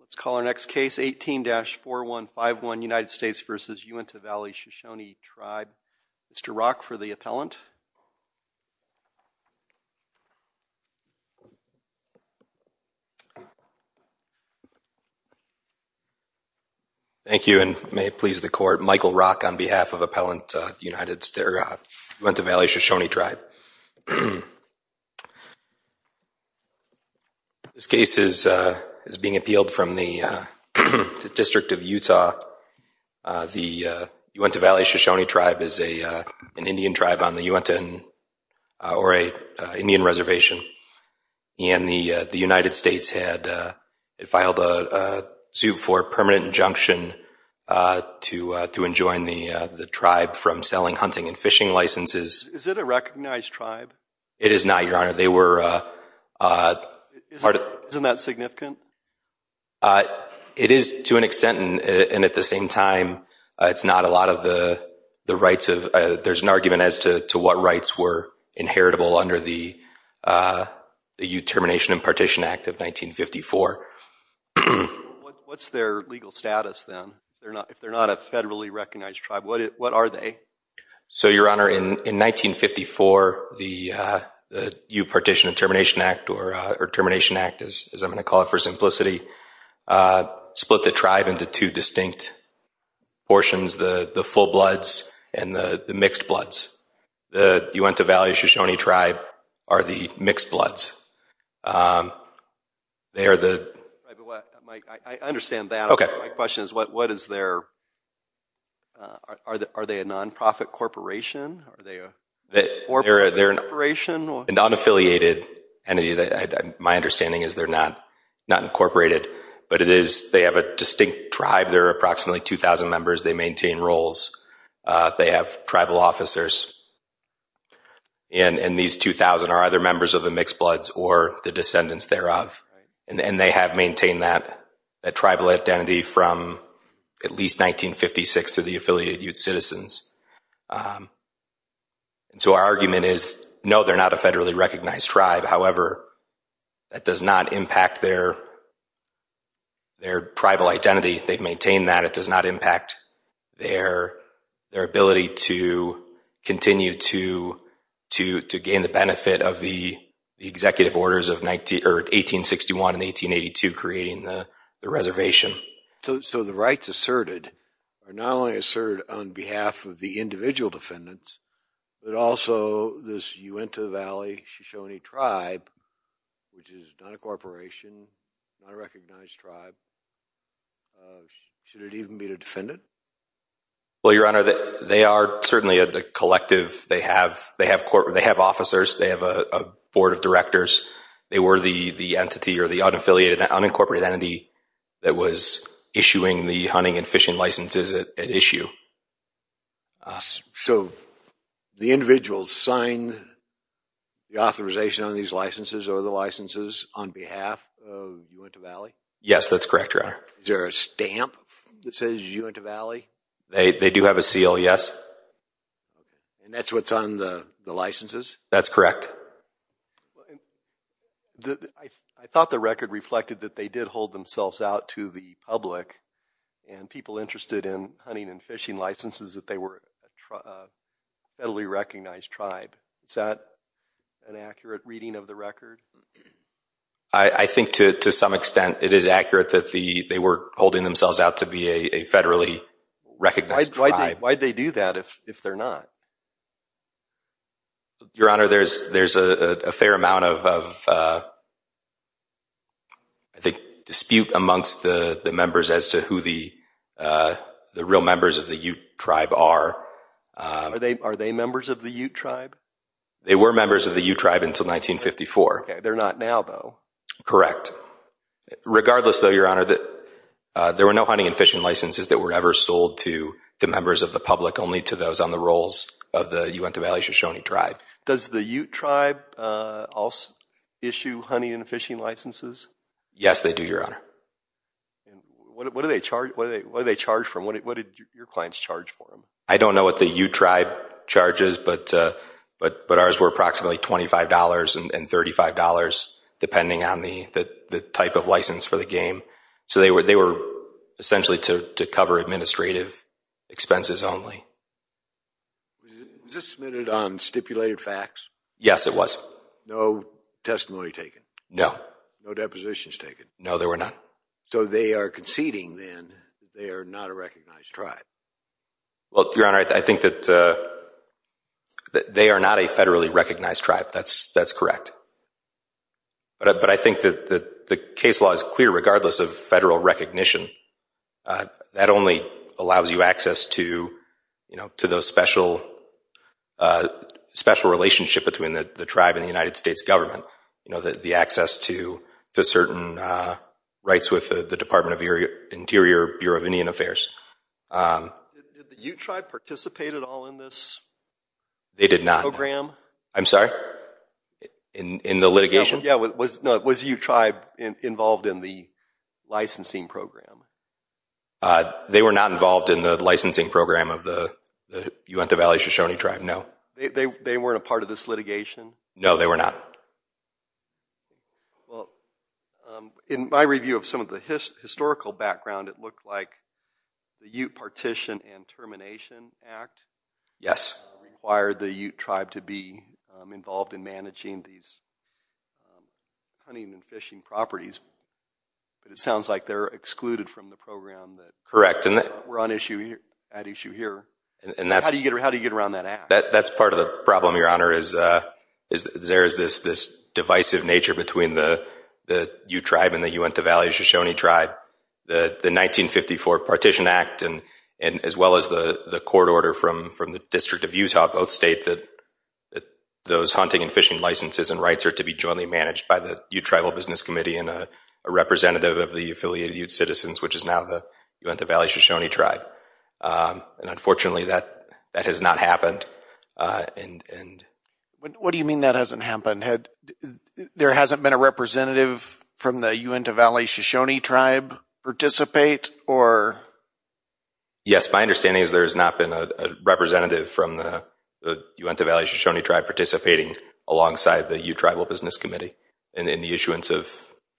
Let's call our next case, 18-4151, United States v. Uintah Valley Shoshone Tribe. Mr. Rock for the appellant. Thank you, and may it please the court, Michael Rock on behalf of Appellant, Uintah Valley Shoshone Tribe. This case is being appealed from the District of Utah. The Uintah Valley Shoshone Tribe is an Indian tribe on the Uintah Indian Reservation, and the United States had filed a suit for permanent injunction to enjoin the tribe from selling hunting and fishing licenses. Is it a recognized tribe? It is not, Your Honor. Isn't that significant? It is to an extent, and at the same time, it's not a lot of the rights. There's an argument as to what rights were inheritable under the U-Termination and Partition Act of 1954. What's their legal status, then, if they're not a federally recognized tribe? What are they? So, Your Honor, in 1954, the U-Partition and Termination Act, or Termination Act, as I'm going to call it for simplicity, split the tribe into two distinct portions, the full-bloods and the mixed-bloods. The Uintah Valley Shoshone Tribe are the mixed-bloods. I understand that, but my question is, are they a non-profit corporation? They're a non-affiliated entity. My understanding is they're not incorporated. But they have a distinct tribe. There are approximately 2,000 members. They maintain roles. They have tribal officers. And these 2,000 are either members of the mixed-bloods or the descendants thereof. And they have maintained that tribal identity from at least 1956 to the affiliated Ute citizens. So our argument is, no, they're not a federally recognized tribe. However, that does not impact their tribal identity. They've maintained that. It does not impact their ability to continue to gain the benefit of the executive orders of 1861 and 1882 creating the reservation. So the rights asserted are not only asserted on behalf of the individual defendants, but also this Uintah Valley Shoshone Tribe, which is not a corporation, not a recognized tribe. Should it even be the defendant? Well, Your Honor, they are certainly a collective. They have officers. They have a board of directors. They were the entity or the unaffiliated, unincorporated entity that was issuing the hunting and fishing licenses at issue. So the individuals signed the authorization on these licenses or the licenses on behalf of Uintah Valley? Yes, that's correct, Your Honor. Is there a stamp that says Uintah Valley? They do have a seal, yes. And that's what's on the licenses? That's correct. I thought the record reflected that they did hold themselves out to the public and people interested in hunting and fishing licenses that they were a federally recognized tribe. Is that an accurate reading of the record? I think to some extent it is accurate that they were holding themselves out to be a federally recognized tribe. Why'd they do that if they're not? Your Honor, there's a fair amount of, I think, dispute amongst the members as to who the real members of the Ute tribe are. Are they members of the Ute tribe? They were members of the Ute tribe until 1954. Okay, they're not now, though. Correct. Regardless, though, Your Honor, there were no hunting and fishing licenses that were ever sold to members of the public, only to those on the rolls of the Uintah Valley Shoshone tribe. Does the Ute tribe issue hunting and fishing licenses? Yes, they do, Your Honor. What do they charge for them? What did your clients charge for them? I don't know what the Ute tribe charges, but ours were approximately $25 and $35, depending on the type of license for the game. So they were essentially to cover administrative expenses only. Was this submitted on stipulated facts? Yes, it was. No testimony taken? No. No depositions taken? No, there were none. So they are conceding, then, that they are not a recognized tribe? Well, Your Honor, I think that they are not a federally recognized tribe. That's correct. But I think that the case law is clear, regardless of federal recognition. That only allows you access to those special relationships between the tribe and the United States government, the access to certain rights with the Department of Interior Bureau of Indian Affairs. Did the Ute tribe participate at all in this program? They did not. I'm sorry? In the litigation? Yeah, was the Ute tribe involved in the licensing program? They were not involved in the licensing program of the Uintah Valley Shoshone tribe, no. They weren't a part of this litigation? No, they were not. Well, in my review of some of the historical background, it looked like the Ute Partition and Termination Act required the Ute tribe to be involved in managing these hunting and fishing properties. But it sounds like they're excluded from the program that were at issue here. How do you get around that act? That's part of the problem, Your Honor, is there is this divisive nature between the Ute tribe and the Uintah Valley Shoshone tribe. The 1954 Partition Act, as well as the court order from the District of Utah, both state that those hunting and fishing licenses and rights are to be jointly managed by the Ute Tribal Business Committee and a representative of the Affiliated Ute Citizens, which is now the Uintah Valley Shoshone tribe. Unfortunately, that has not happened. What do you mean that hasn't happened? There hasn't been a representative from the Uintah Valley Shoshone tribe participate? Yes, my understanding is there has not been a representative from the Uintah Valley Shoshone tribe participating alongside the Ute Tribal Business Committee in the issuance of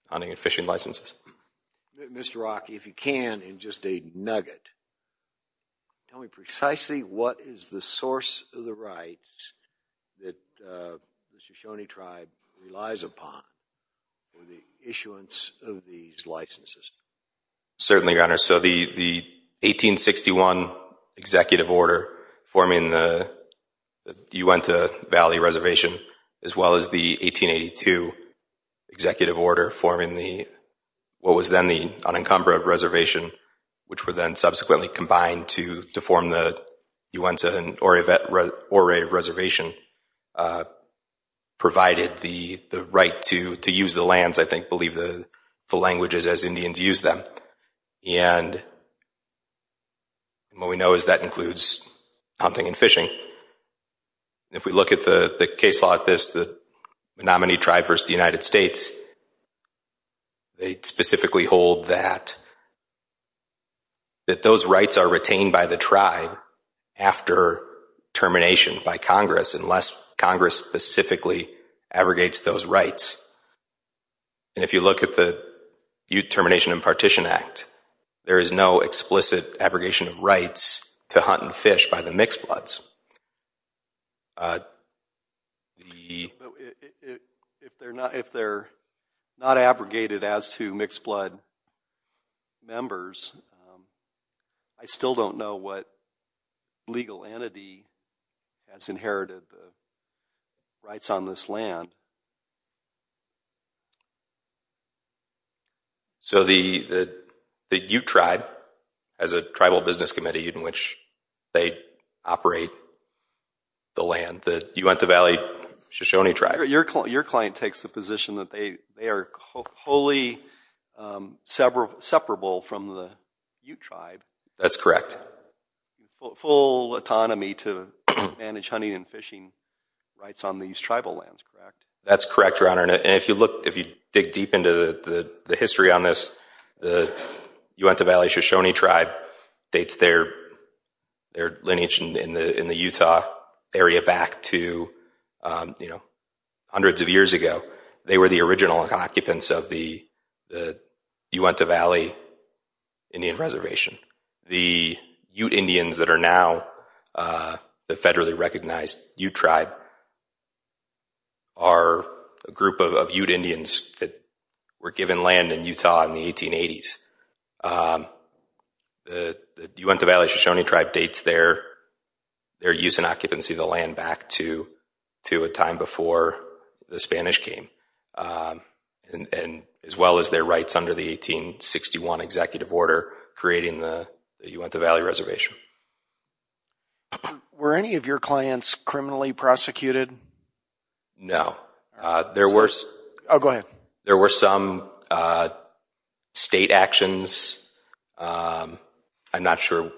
hunting and fishing licenses. Mr. Rock, if you can, in just a nugget, tell me precisely what is the source of the rights that the Shoshone tribe relies upon for the issuance of these licenses? The 1861 Executive Order forming the Uintah Valley Reservation, as well as the 1882 Executive Order forming what was then the Unencumbra Reservation, which were then subsequently combined to form the Uintah and Ore Reservation, provided the right to use the lands, I think, believe the language is as Indians use them. And what we know is that includes hunting and fishing. If we look at the case like this, the nominee tribe versus the United States, they specifically hold that those rights are retained by the tribe after termination by Congress, unless Congress specifically abrogates those rights. And if you look at the Ute Termination and Partition Act, there is no explicit abrogation of rights to hunt and fish by the mixed bloods. If they're not abrogated as to mixed blood members, I still don't know what legal entity has inherited the rights on this land. So the Ute tribe, as a tribal business committee in which they operate the land, the Uintah Valley Shoshone tribe. Your client takes the position that they are wholly separable from the Ute tribe. That's correct. Full autonomy to manage hunting and fishing rights on these tribal lands, correct? That's correct, Your Honor. And if you dig deep into the history on this, the Uintah Valley Shoshone tribe dates their lineage in the Utah area back to hundreds of years ago. They were the original occupants of the Uintah Valley Indian Reservation. The Ute Indians that are now the federally recognized Ute tribe are a group of Ute Indians that were given land in Utah in the 1880s. The Uintah Valley Shoshone tribe dates their use and occupancy of the land back to a time before the Spanish came, as well as their rights under the 1861 executive order creating the Uintah Valley Reservation. Were any of your clients criminally prosecuted? No. Oh, go ahead. There were some state actions. I'm not sure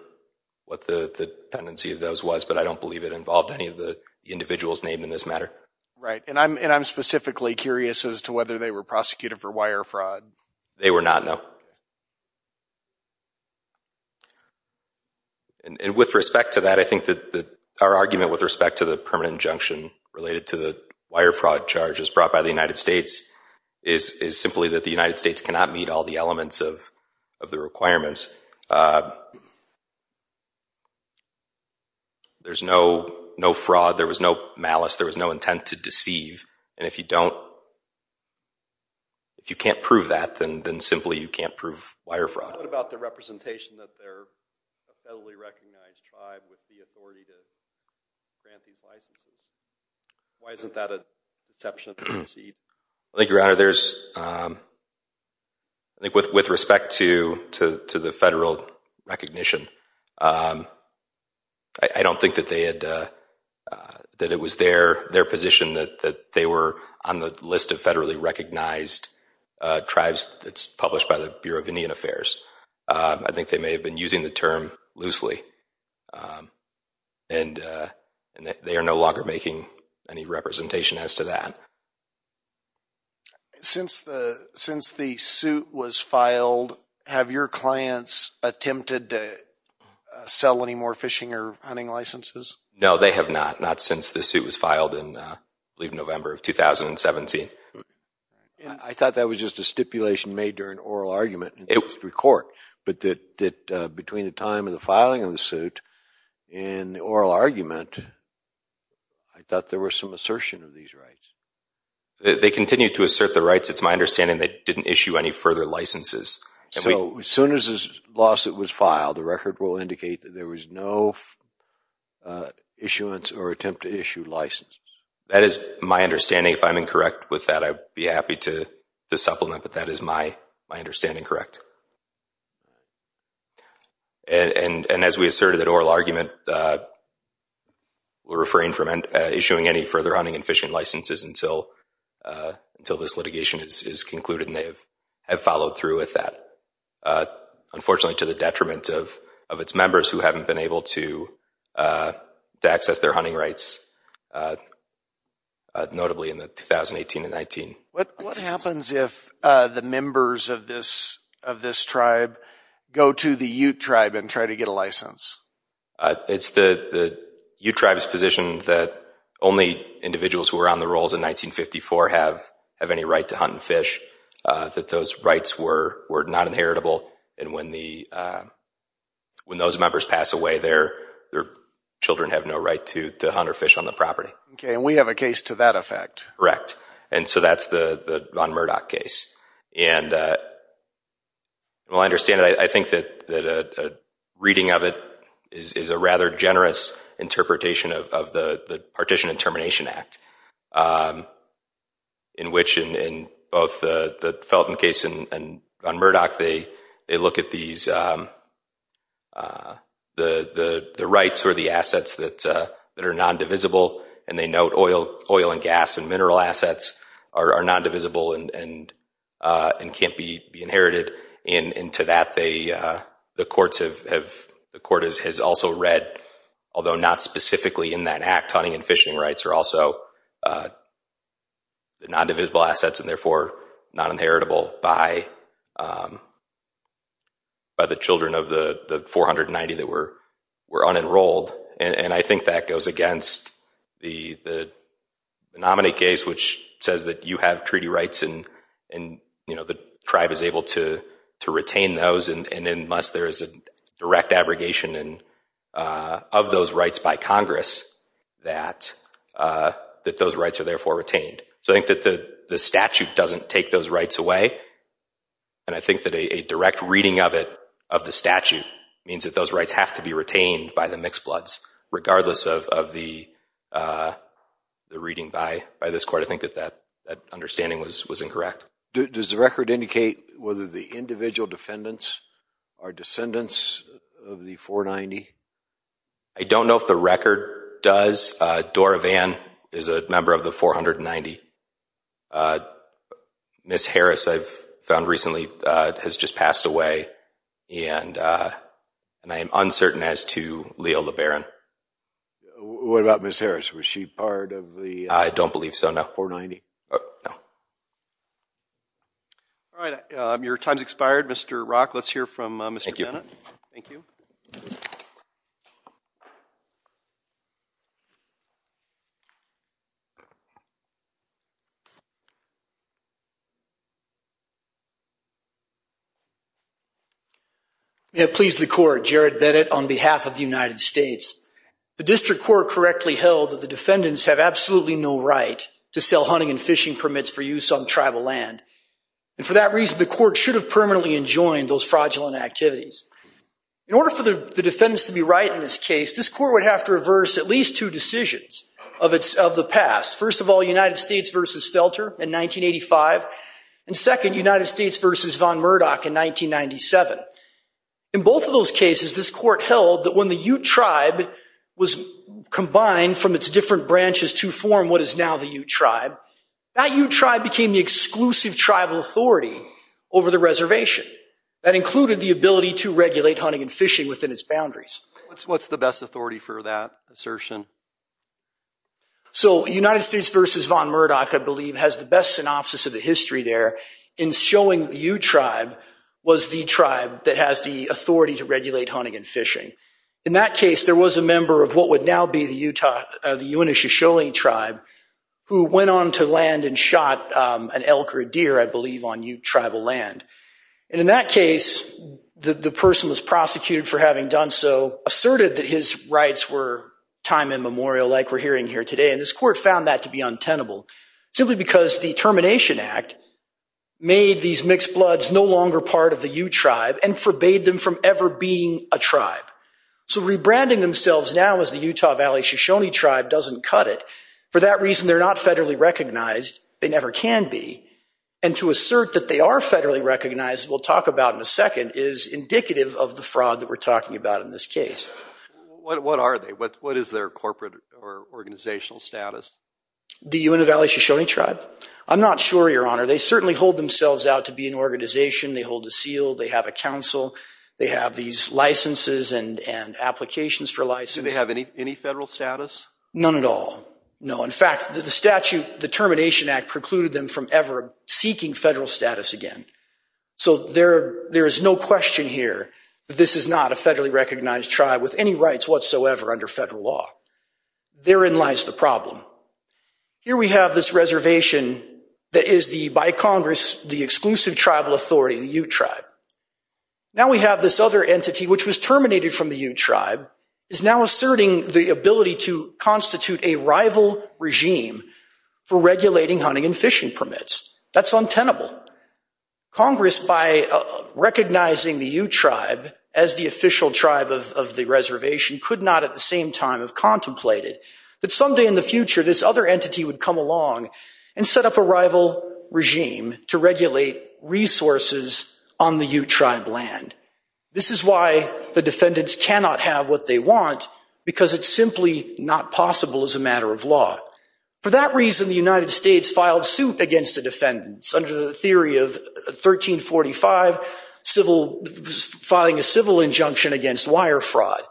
what the tendency of those was, but I don't believe it involved any of the individuals named in this matter. Right, and I'm specifically curious as to whether they were prosecuted for wire fraud. They were not, no. And with respect to that, I think that our argument with respect to the permanent injunction related to the wire fraud charges brought by the United States is simply that the United States cannot meet all the elements of the requirements. There's no fraud. There was no malice. There was no intent to deceive. And if you don't, if you can't prove that, then simply you can't prove wire fraud. What about the representation that they're a federally recognized tribe with the authority to grant these licenses? Why isn't that an exception? I think, Your Honor, with respect to the federal recognition, I don't think that it was their position that they were on the list of federally recognized tribes that's published by the Bureau of Indian Affairs. I think they may have been using the term loosely, and they are no longer making any representation as to that. Since the suit was filed, have your clients attempted to sell any more fishing or hunting licenses? No, they have not, not since the suit was filed in, I believe, November of 2017. I thought that was just a stipulation made during oral argument in the district court, but that between the time of the filing of the suit and the oral argument, I thought there was some assertion of these rights. They continue to assert the rights. It's my understanding they didn't issue any further licenses. So as soon as this lawsuit was filed, the record will indicate that there was no issuance or attempt to issue licenses. That is my understanding. If I'm incorrect with that, I'd be happy to supplement, but that is my understanding correct. And as we asserted at oral argument, we're refraining from issuing any further hunting and fishing licenses until this litigation is concluded, and they have followed through with that. Unfortunately, to the detriment of its members who haven't been able to access their hunting rights, notably in the 2018 and 19. What happens if the members of this tribe go to the Ute tribe and try to get a license? It's the Ute tribe's position that only individuals who were on the rolls in 1954 have any right to hunt and fish, that those rights were not inheritable, and when those members pass away, their children have no right to hunt or fish on the property. Okay, and we have a case to that effect. Correct, and so that's the von Murdoch case. And, well, I understand that. I think that a reading of it is a rather generous interpretation of the Partition and Termination Act, in which in both the Felton case and von Murdoch, they look at the rights or the assets that are non-divisible, and they note oil and gas and mineral assets are non-divisible and can't be inherited. And to that, the court has also read, although not specifically in that act, hunting and fishing rights are also non-divisible assets, and therefore not inheritable by the children of the 490 that were unenrolled. And I think that goes against the nominee case, which says that you have treaty rights and the tribe is able to retain those, and unless there is a direct abrogation of those rights by Congress, that those rights are therefore retained. So I think that the statute doesn't take those rights away, and I think that a direct reading of it, of the statute, means that those rights have to be retained by the mixed bloods, regardless of the reading by this court. I think that that understanding was incorrect. Does the record indicate whether the individual defendants are descendants of the 490? I don't know if the record does. Dora Vann is a member of the 490. Ms. Harris, I've found recently, has just passed away, and I am uncertain as to Leo LeBaron. What about Ms. Harris? Was she part of the 490? I don't believe so, no. All right. Your time has expired. Mr. Rock, let's hear from Mr. Bennett. Thank you. We have pleased the court, Jared Bennett, on behalf of the United States. The district court correctly held that the defendants have absolutely no right to sell hunting and fishing permits for use on tribal land, and for that reason the court should have permanently enjoined those fraudulent the court should have permanently enjoined those fraudulent activities. In order for the defendants to be right in this case, this court would have to reverse at least two decisions of the past. First of all, United States v. Felter in 1985, and second, United States v. von Murdoch in 1997. In both of those cases, this court held that when the Ute tribe was combined from its different branches to form what is now the Ute tribe, that Ute tribe became the exclusive tribal authority over the reservation. That included the ability to regulate hunting and fishing within its boundaries. What's the best authority for that assertion? So United States v. von Murdoch, I believe, has the best synopsis of the history there in showing that the Ute tribe was the tribe that has the authority to regulate hunting and fishing. In that case, there was a member of what would now be the Utah, the Uintah Shoshone tribe, who went on to land and shot an elk or a deer, I believe, on Ute tribal land. In that case, the person who was prosecuted for having done so asserted that his rights were time and memorial, like we're hearing here today, and this court found that to be untenable, simply because the Termination Act made these mixed bloods no longer part of the Ute tribe and forbade them from ever being a tribe. So rebranding themselves now as the Utah Valley Shoshone tribe doesn't cut it. For that reason, they're not federally recognized. They never can be. And to assert that they are federally recognized, we'll talk about in a second, is indicative of the fraud that we're talking about in this case. What are they? What is their corporate or organizational status? The Uintah Valley Shoshone tribe? I'm not sure, Your Honor. They certainly hold themselves out to be an organization. They hold a seal. They have a council. They have these licenses and applications for license. Do they have any federal status? None at all, no. In fact, the statute, the Termination Act, precluded them from ever seeking federal status again. So there is no question here that this is not a federally recognized tribe with any rights whatsoever under federal law. Therein lies the problem. Here we have this reservation that is by Congress the exclusive tribal authority, the Ute tribe. Now we have this other entity, which was terminated from the Ute tribe, is now asserting the ability to constitute a rival regime for regulating hunting and fishing permits. That's untenable. Congress, by recognizing the Ute tribe as the official tribe of the reservation, could not at the same time have contemplated that someday in the future this other entity would come along and set up a rival regime to regulate resources on the Ute tribe land. This is why the defendants cannot have what they want, because it's simply not possible as a matter of law. For that reason, the United States filed suit against the defendants under the theory of 1345, filing a civil injunction against wire fraud.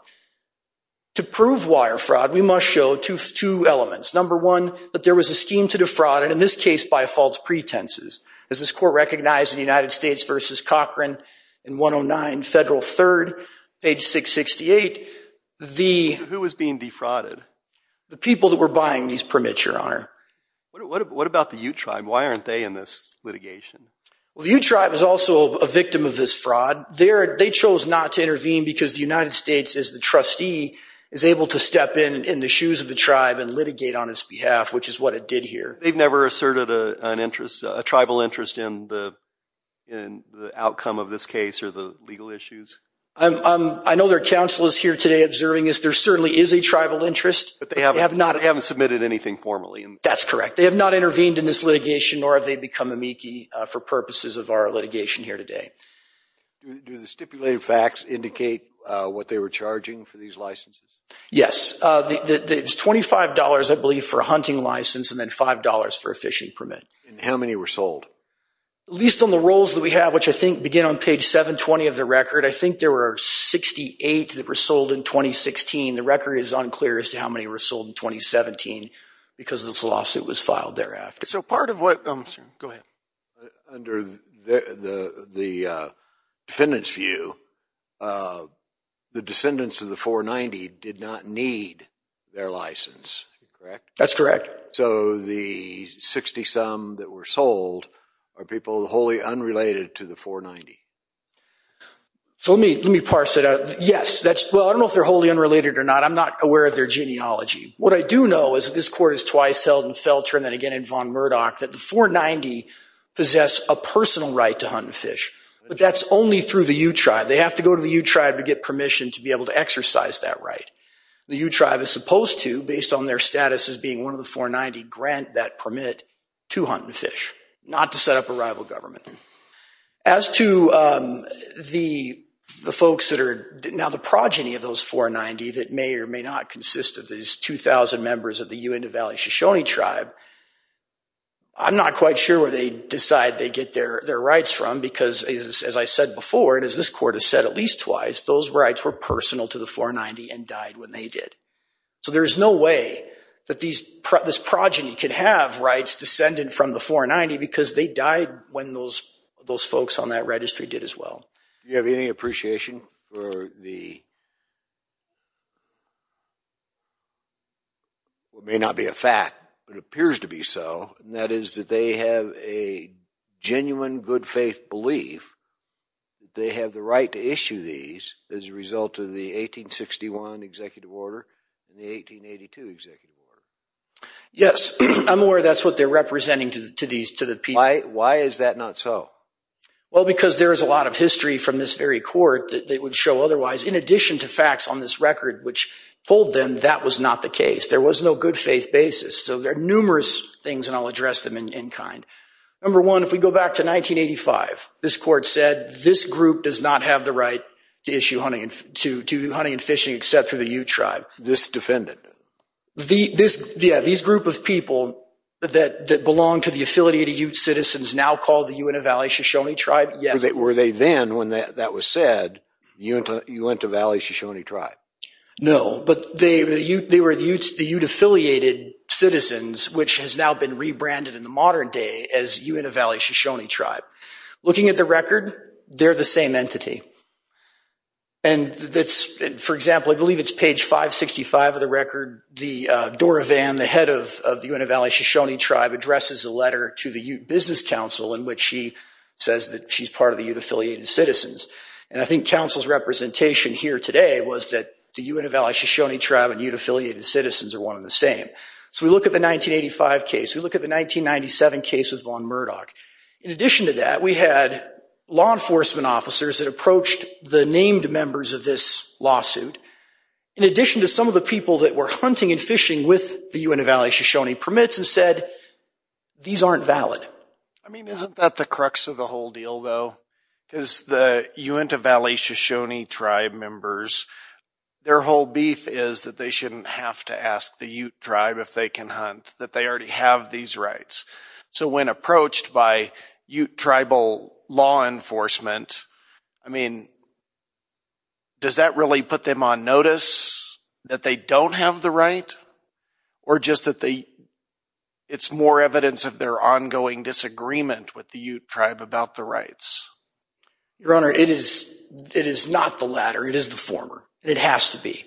To prove wire fraud, we must show two elements. Number one, that there was a scheme to defraud, and in this case by false pretenses. As this court recognized in the United States v. Cochran in 109 Federal III, page 668, the... Who was being defrauded? The people that were buying these permits, Your Honor. What about the Ute tribe? Why aren't they in this litigation? Well, the Ute tribe is also a victim of this fraud. They chose not to intervene because the United States, as the trustee, is able to step in in the shoes of the tribe and litigate on its behalf, which is what it did here. They've never asserted a tribal interest in the outcome of this case or the legal issues? I know their counsel is here today observing this. There certainly is a tribal interest. But they haven't submitted anything formally. That's correct. They have not intervened in this litigation, nor have they become amici for purposes of our litigation here today. Do the stipulated facts indicate what they were charging for these licenses? Yes. It was $25, I believe, for a hunting license, and then $5 for a fishing permit. And how many were sold? At least on the rolls that we have, which I think begin on page 720 of the record, I think there were 68 that were sold in 2016. The record is unclear as to how many were sold in 2017 because this lawsuit was filed thereafter. So part of what... Go ahead. Under the defendant's view, the descendants of the 490 did not need their license, correct? That's correct. So the 60-some that were sold are people wholly unrelated to the 490? So let me parse it out. Yes. Well, I don't know if they're wholly unrelated or not. I'm not aware of their genealogy. What I do know is that this court has twice held in Felter and then again in Von Murdoch that the 490 possess a personal right to hunt and fish. But that's only through the U-Tribe. They have to go to the U-Tribe to get permission to be able to exercise that right. The U-Tribe is supposed to, based on their status as being one of the 490, grant that permit to hunt and fish, not to set up a rival government. As to the folks that are now the progeny of those 490 that may or may not consist of these 2,000 members of the Uintah Valley Shoshone Tribe, I'm not quite sure where they decide they get their rights from because, as I said before, and as this court has said at least twice, those rights were personal to the 490 and died when they did. So there is no way that this progeny could have rights descended from the 490 because they died when those folks on that registry did as well. Do you have any appreciation for the... what may not be a fact, but appears to be so, and that is that they have a genuine good-faith belief that they have the right to issue these as a result of the 1861 Executive Order and the 1882 Executive Order? Yes, I'm aware that's what they're representing to the people. Why is that not so? Well, because there is a lot of history from this very court that would show otherwise. In addition to facts on this record which told them that was not the case. There was no good-faith basis. So there are numerous things, and I'll address them in kind. Number one, if we go back to 1985, this court said, this group does not have the right to issue hunting and fishing except for the Ute tribe. This defendant? Yeah, these group of people that belong to the affiliated Ute citizens now called the Uintah Valley Shoshone tribe. Were they then, when that was said, Uintah Valley Shoshone tribe? No, but they were the Ute-affiliated citizens, which has now been rebranded in the modern day as Uintah Valley Shoshone tribe. Looking at the record, they're the same entity. For example, I believe it's page 565 of the record, Dora Van, the head of the Uintah Valley Shoshone tribe, addresses a letter to the Ute Business Council in which she says that she's part of the Ute-affiliated citizens. And I think council's representation here today was that the Uintah Valley Shoshone tribe and Ute-affiliated citizens are one and the same. So we look at the 1985 case. We look at the 1997 case with Von Murdoch. In addition to that, we had law enforcement officers that approached the named members of this lawsuit. In addition to some of the people that were hunting and fishing with the Uintah Valley Shoshone permits and said, these aren't valid. I mean, isn't that the crux of the whole deal, though? Because the Uintah Valley Shoshone tribe members, their whole beef is that they shouldn't have to ask the Ute tribe if they can hunt, that they already have these rights. So when approached by Ute tribal law enforcement, I mean, does that really put them on notice that they don't have the right? Or just that it's more evidence of their ongoing disagreement with the Ute tribe about the rights? Your Honor, it is not the latter. It is the former, and it has to be.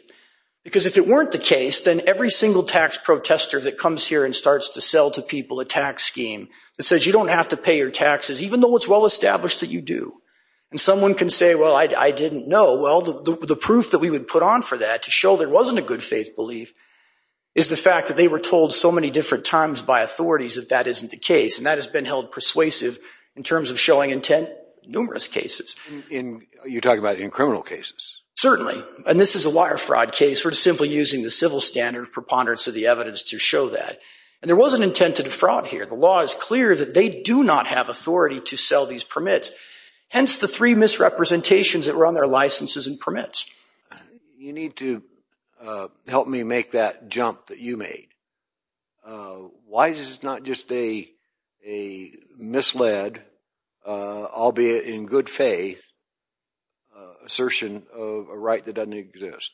Because if it weren't the case, then every single tax protester that comes here and starts to sell to people a tax scheme that says you don't have to pay your taxes, even though it's well established that you do. And someone can say, well, I didn't know. Well, the proof that we would put on for that to show there wasn't a good faith belief is the fact that they were told so many different times by authorities that that isn't the case. And that has been held persuasive in terms of showing intent in numerous cases. You're talking about in criminal cases? Certainly. And this is a wire fraud case. We're simply using the civil standard preponderance of the evidence to show that. And there wasn't intent to defraud here. The law is clear that they do not have authority to sell these permits, hence the three misrepresentations that were on their licenses and permits. You need to help me make that jump that you made. Why is this not just a misled, albeit in good faith, assertion of a right that doesn't exist?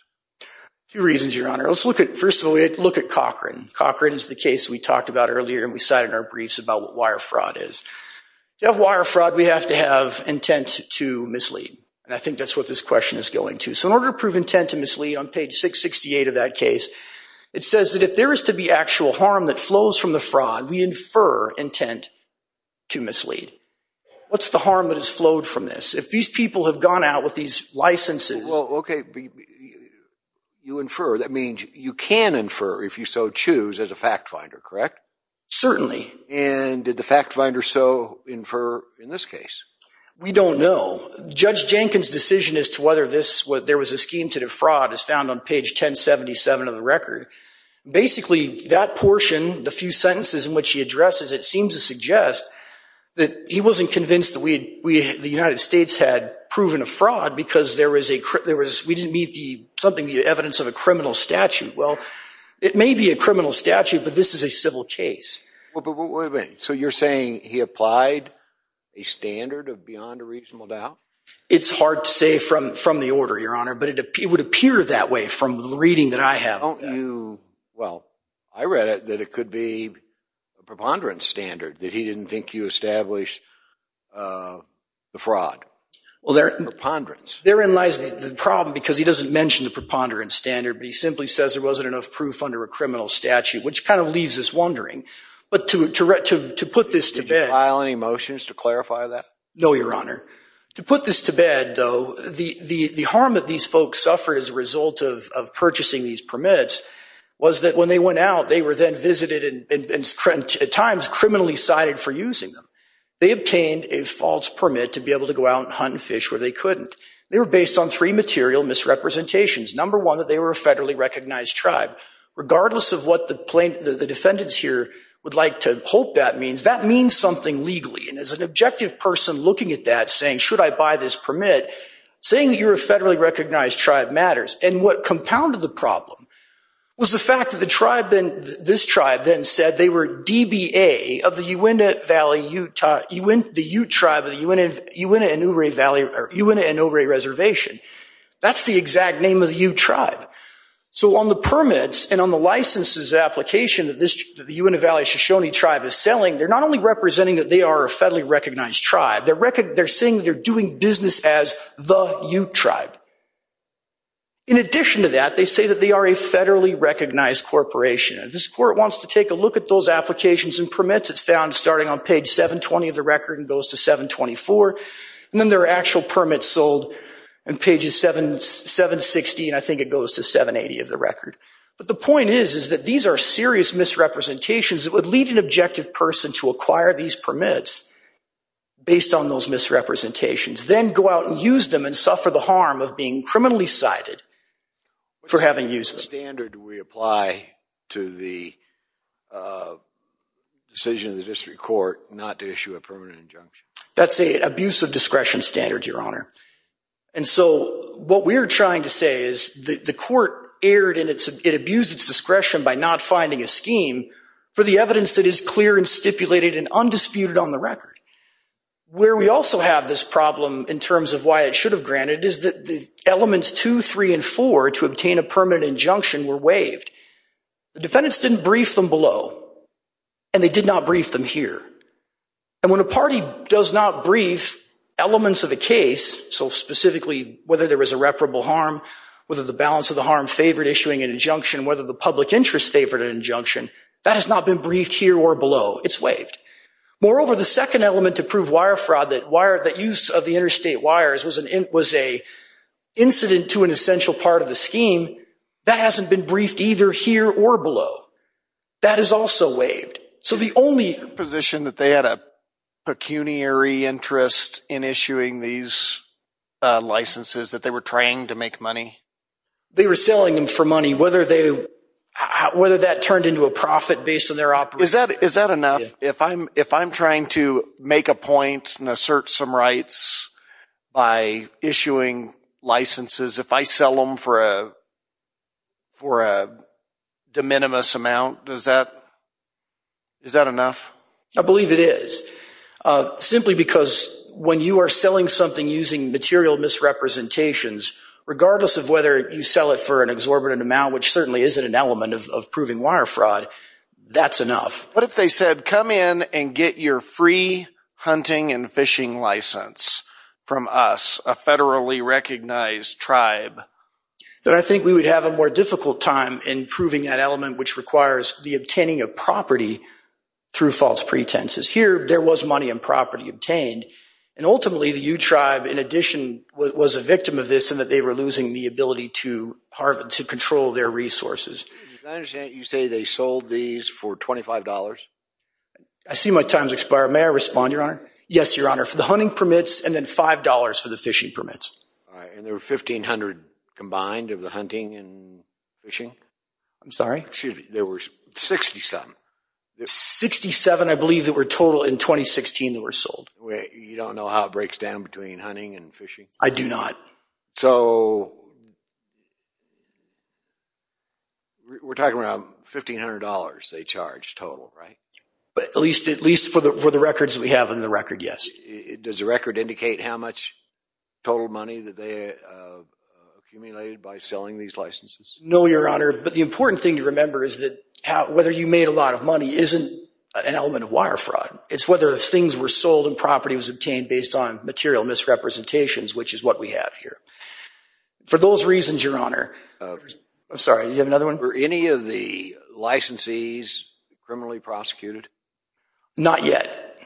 Two reasons, Your Honor. First of all, we have to look at Cochran. Cochran is the case we talked about earlier and we cited in our briefs about what wire fraud is. To have wire fraud, we have to have intent to mislead. And I think that's what this question is going to. So in order to prove intent to mislead, on page 668 of that case, it says that if there is to be actual harm that flows from the fraud, we infer intent to mislead. What's the harm that has flowed from this? If these people have gone out with these licenses. Well, okay, you infer. That means you can infer, if you so choose, as a fact finder, correct? Certainly. And did the fact finder so infer in this case? We don't know. Judge Jenkins' decision as to whether there was a scheme to defraud is found on page 1077 of the record. Basically, that portion, the few sentences in which he addresses it, seems to suggest that he wasn't convinced that the United States had proven a fraud because we didn't meet the evidence of a criminal statute. Well, it may be a criminal statute, but this is a civil case. Wait a minute. So you're saying he applied a standard beyond a reasonable doubt? It's hard to say from the order, Your Honor, but it would appear that way from the reading that I have. Don't you – well, I read it that it could be a preponderance standard, that he didn't think you established the fraud, preponderance. Therein lies the problem because he doesn't mention the preponderance standard, but he simply says there wasn't enough proof under a criminal statute, which kind of leaves us wondering. But to put this to bed – Did you file any motions to clarify that? No, Your Honor. To put this to bed, though, the harm that these folks suffered as a result of purchasing these permits was that when they went out, they were then visited and at times criminally cited for using them. They obtained a false permit to be able to go out and hunt and fish where they couldn't. They were based on three material misrepresentations. Number one, that they were a federally recognized tribe. Regardless of what the defendants here would like to hope that means, that means something legally. And as an objective person looking at that saying, should I buy this permit, saying that you're a federally recognized tribe matters. And what compounded the problem was the fact that the tribe then – this tribe then said they were DBA of the Uintah Valley Utah – the Ute tribe of the Uintah Inouye Reservation. That's the exact name of the Ute tribe. So on the permits and on the licenses application that the Uintah Valley Shoshone tribe is selling, they're not only representing that they are a federally recognized tribe, they're saying they're doing business as the Ute tribe. In addition to that, they say that they are a federally recognized corporation. And if this Court wants to take a look at those applications and permits, it's found starting on page 720 of the record and goes to 724. And then there are actual permits sold on pages 760 and I think it goes to 780 of the record. But the point is, is that these are serious misrepresentations that would lead an objective person to acquire these permits based on those misrepresentations, then go out and use them and suffer the harm of being criminally cited for having used them. What standard do we apply to the decision of the district court not to issue a permanent injunction? That's an abuse of discretion standard, Your Honor. And so what we're trying to say is the Court erred and it abused its discretion by not finding a scheme for the evidence that is clear and stipulated and undisputed on the record. Where we also have this problem in terms of why it should have granted is that the elements 2, 3, and 4 to obtain a permanent injunction were waived. The defendants didn't brief them below and they did not brief them here. And when a party does not brief elements of a case, so specifically whether there was irreparable harm, whether the balance of the harm favored issuing an injunction, whether the public interest favored an injunction, that has not been briefed here or below. It's waived. Moreover, the second element to prove wire fraud, that use of the interstate wires was an incident to an essential part of the scheme, that hasn't been briefed either here or below. That is also waived. Is it your position that they had a pecuniary interest in issuing these licenses, that they were trying to make money? They were selling them for money, whether that turned into a profit based on their operation. Is that enough? If I'm trying to make a point and assert some rights by issuing licenses, if I sell them for a de minimis amount, is that enough? I believe it is. Simply because when you are selling something using material misrepresentations, regardless of whether you sell it for an exorbitant amount, which certainly isn't an element of proving wire fraud, that's enough. What if they said, come in and get your free hunting and fishing license from us, a federally recognized tribe? Then I think we would have a more difficult time in proving that element, which requires the obtaining of property through false pretenses. Here, there was money and property obtained. And ultimately, the U Tribe, in addition, was a victim of this in that they were losing the ability to control their resources. I understand you say they sold these for $25. I see my time has expired. May I respond, Your Honor? Yes, Your Honor. For the hunting permits and then $5 for the fishing permits. And there were $1,500 combined of the hunting and fishing? I'm sorry? Excuse me. There were 67. 67, I believe, that were total in 2016 that were sold. You don't know how it breaks down between hunting and fishing? I do not. So we're talking about $1,500 they charged total, right? At least for the records we have in the record, yes. Does the record indicate how much total money that they accumulated by selling these licenses? No, Your Honor. But the important thing to remember is that whether you made a lot of money isn't an element of wire fraud. It's whether things were sold and property was obtained based on material misrepresentations, which is what we have here. For those reasons, Your Honor. I'm sorry, do you have another one? Were any of the licensees criminally prosecuted? Not yet.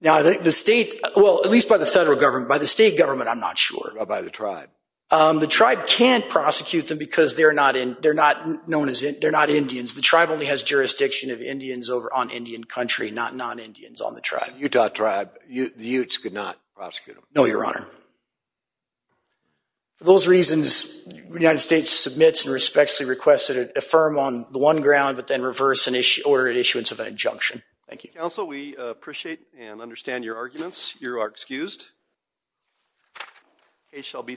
Now, I think the state, well, at least by the federal government. By the state government, I'm not sure. By the tribe? The tribe can't prosecute them because they're not Indians. The tribe only has jurisdiction of Indians on Indian country, not non-Indians on the tribe. Utah tribe, the Utes could not prosecute them? No, Your Honor. For those reasons, the United States submits and respectfully requests that it affirm on the one ground, but then reverse an order at issuance of an injunction. Thank you. Counsel, we appreciate and understand your arguments. You are excused. A shall be submitted.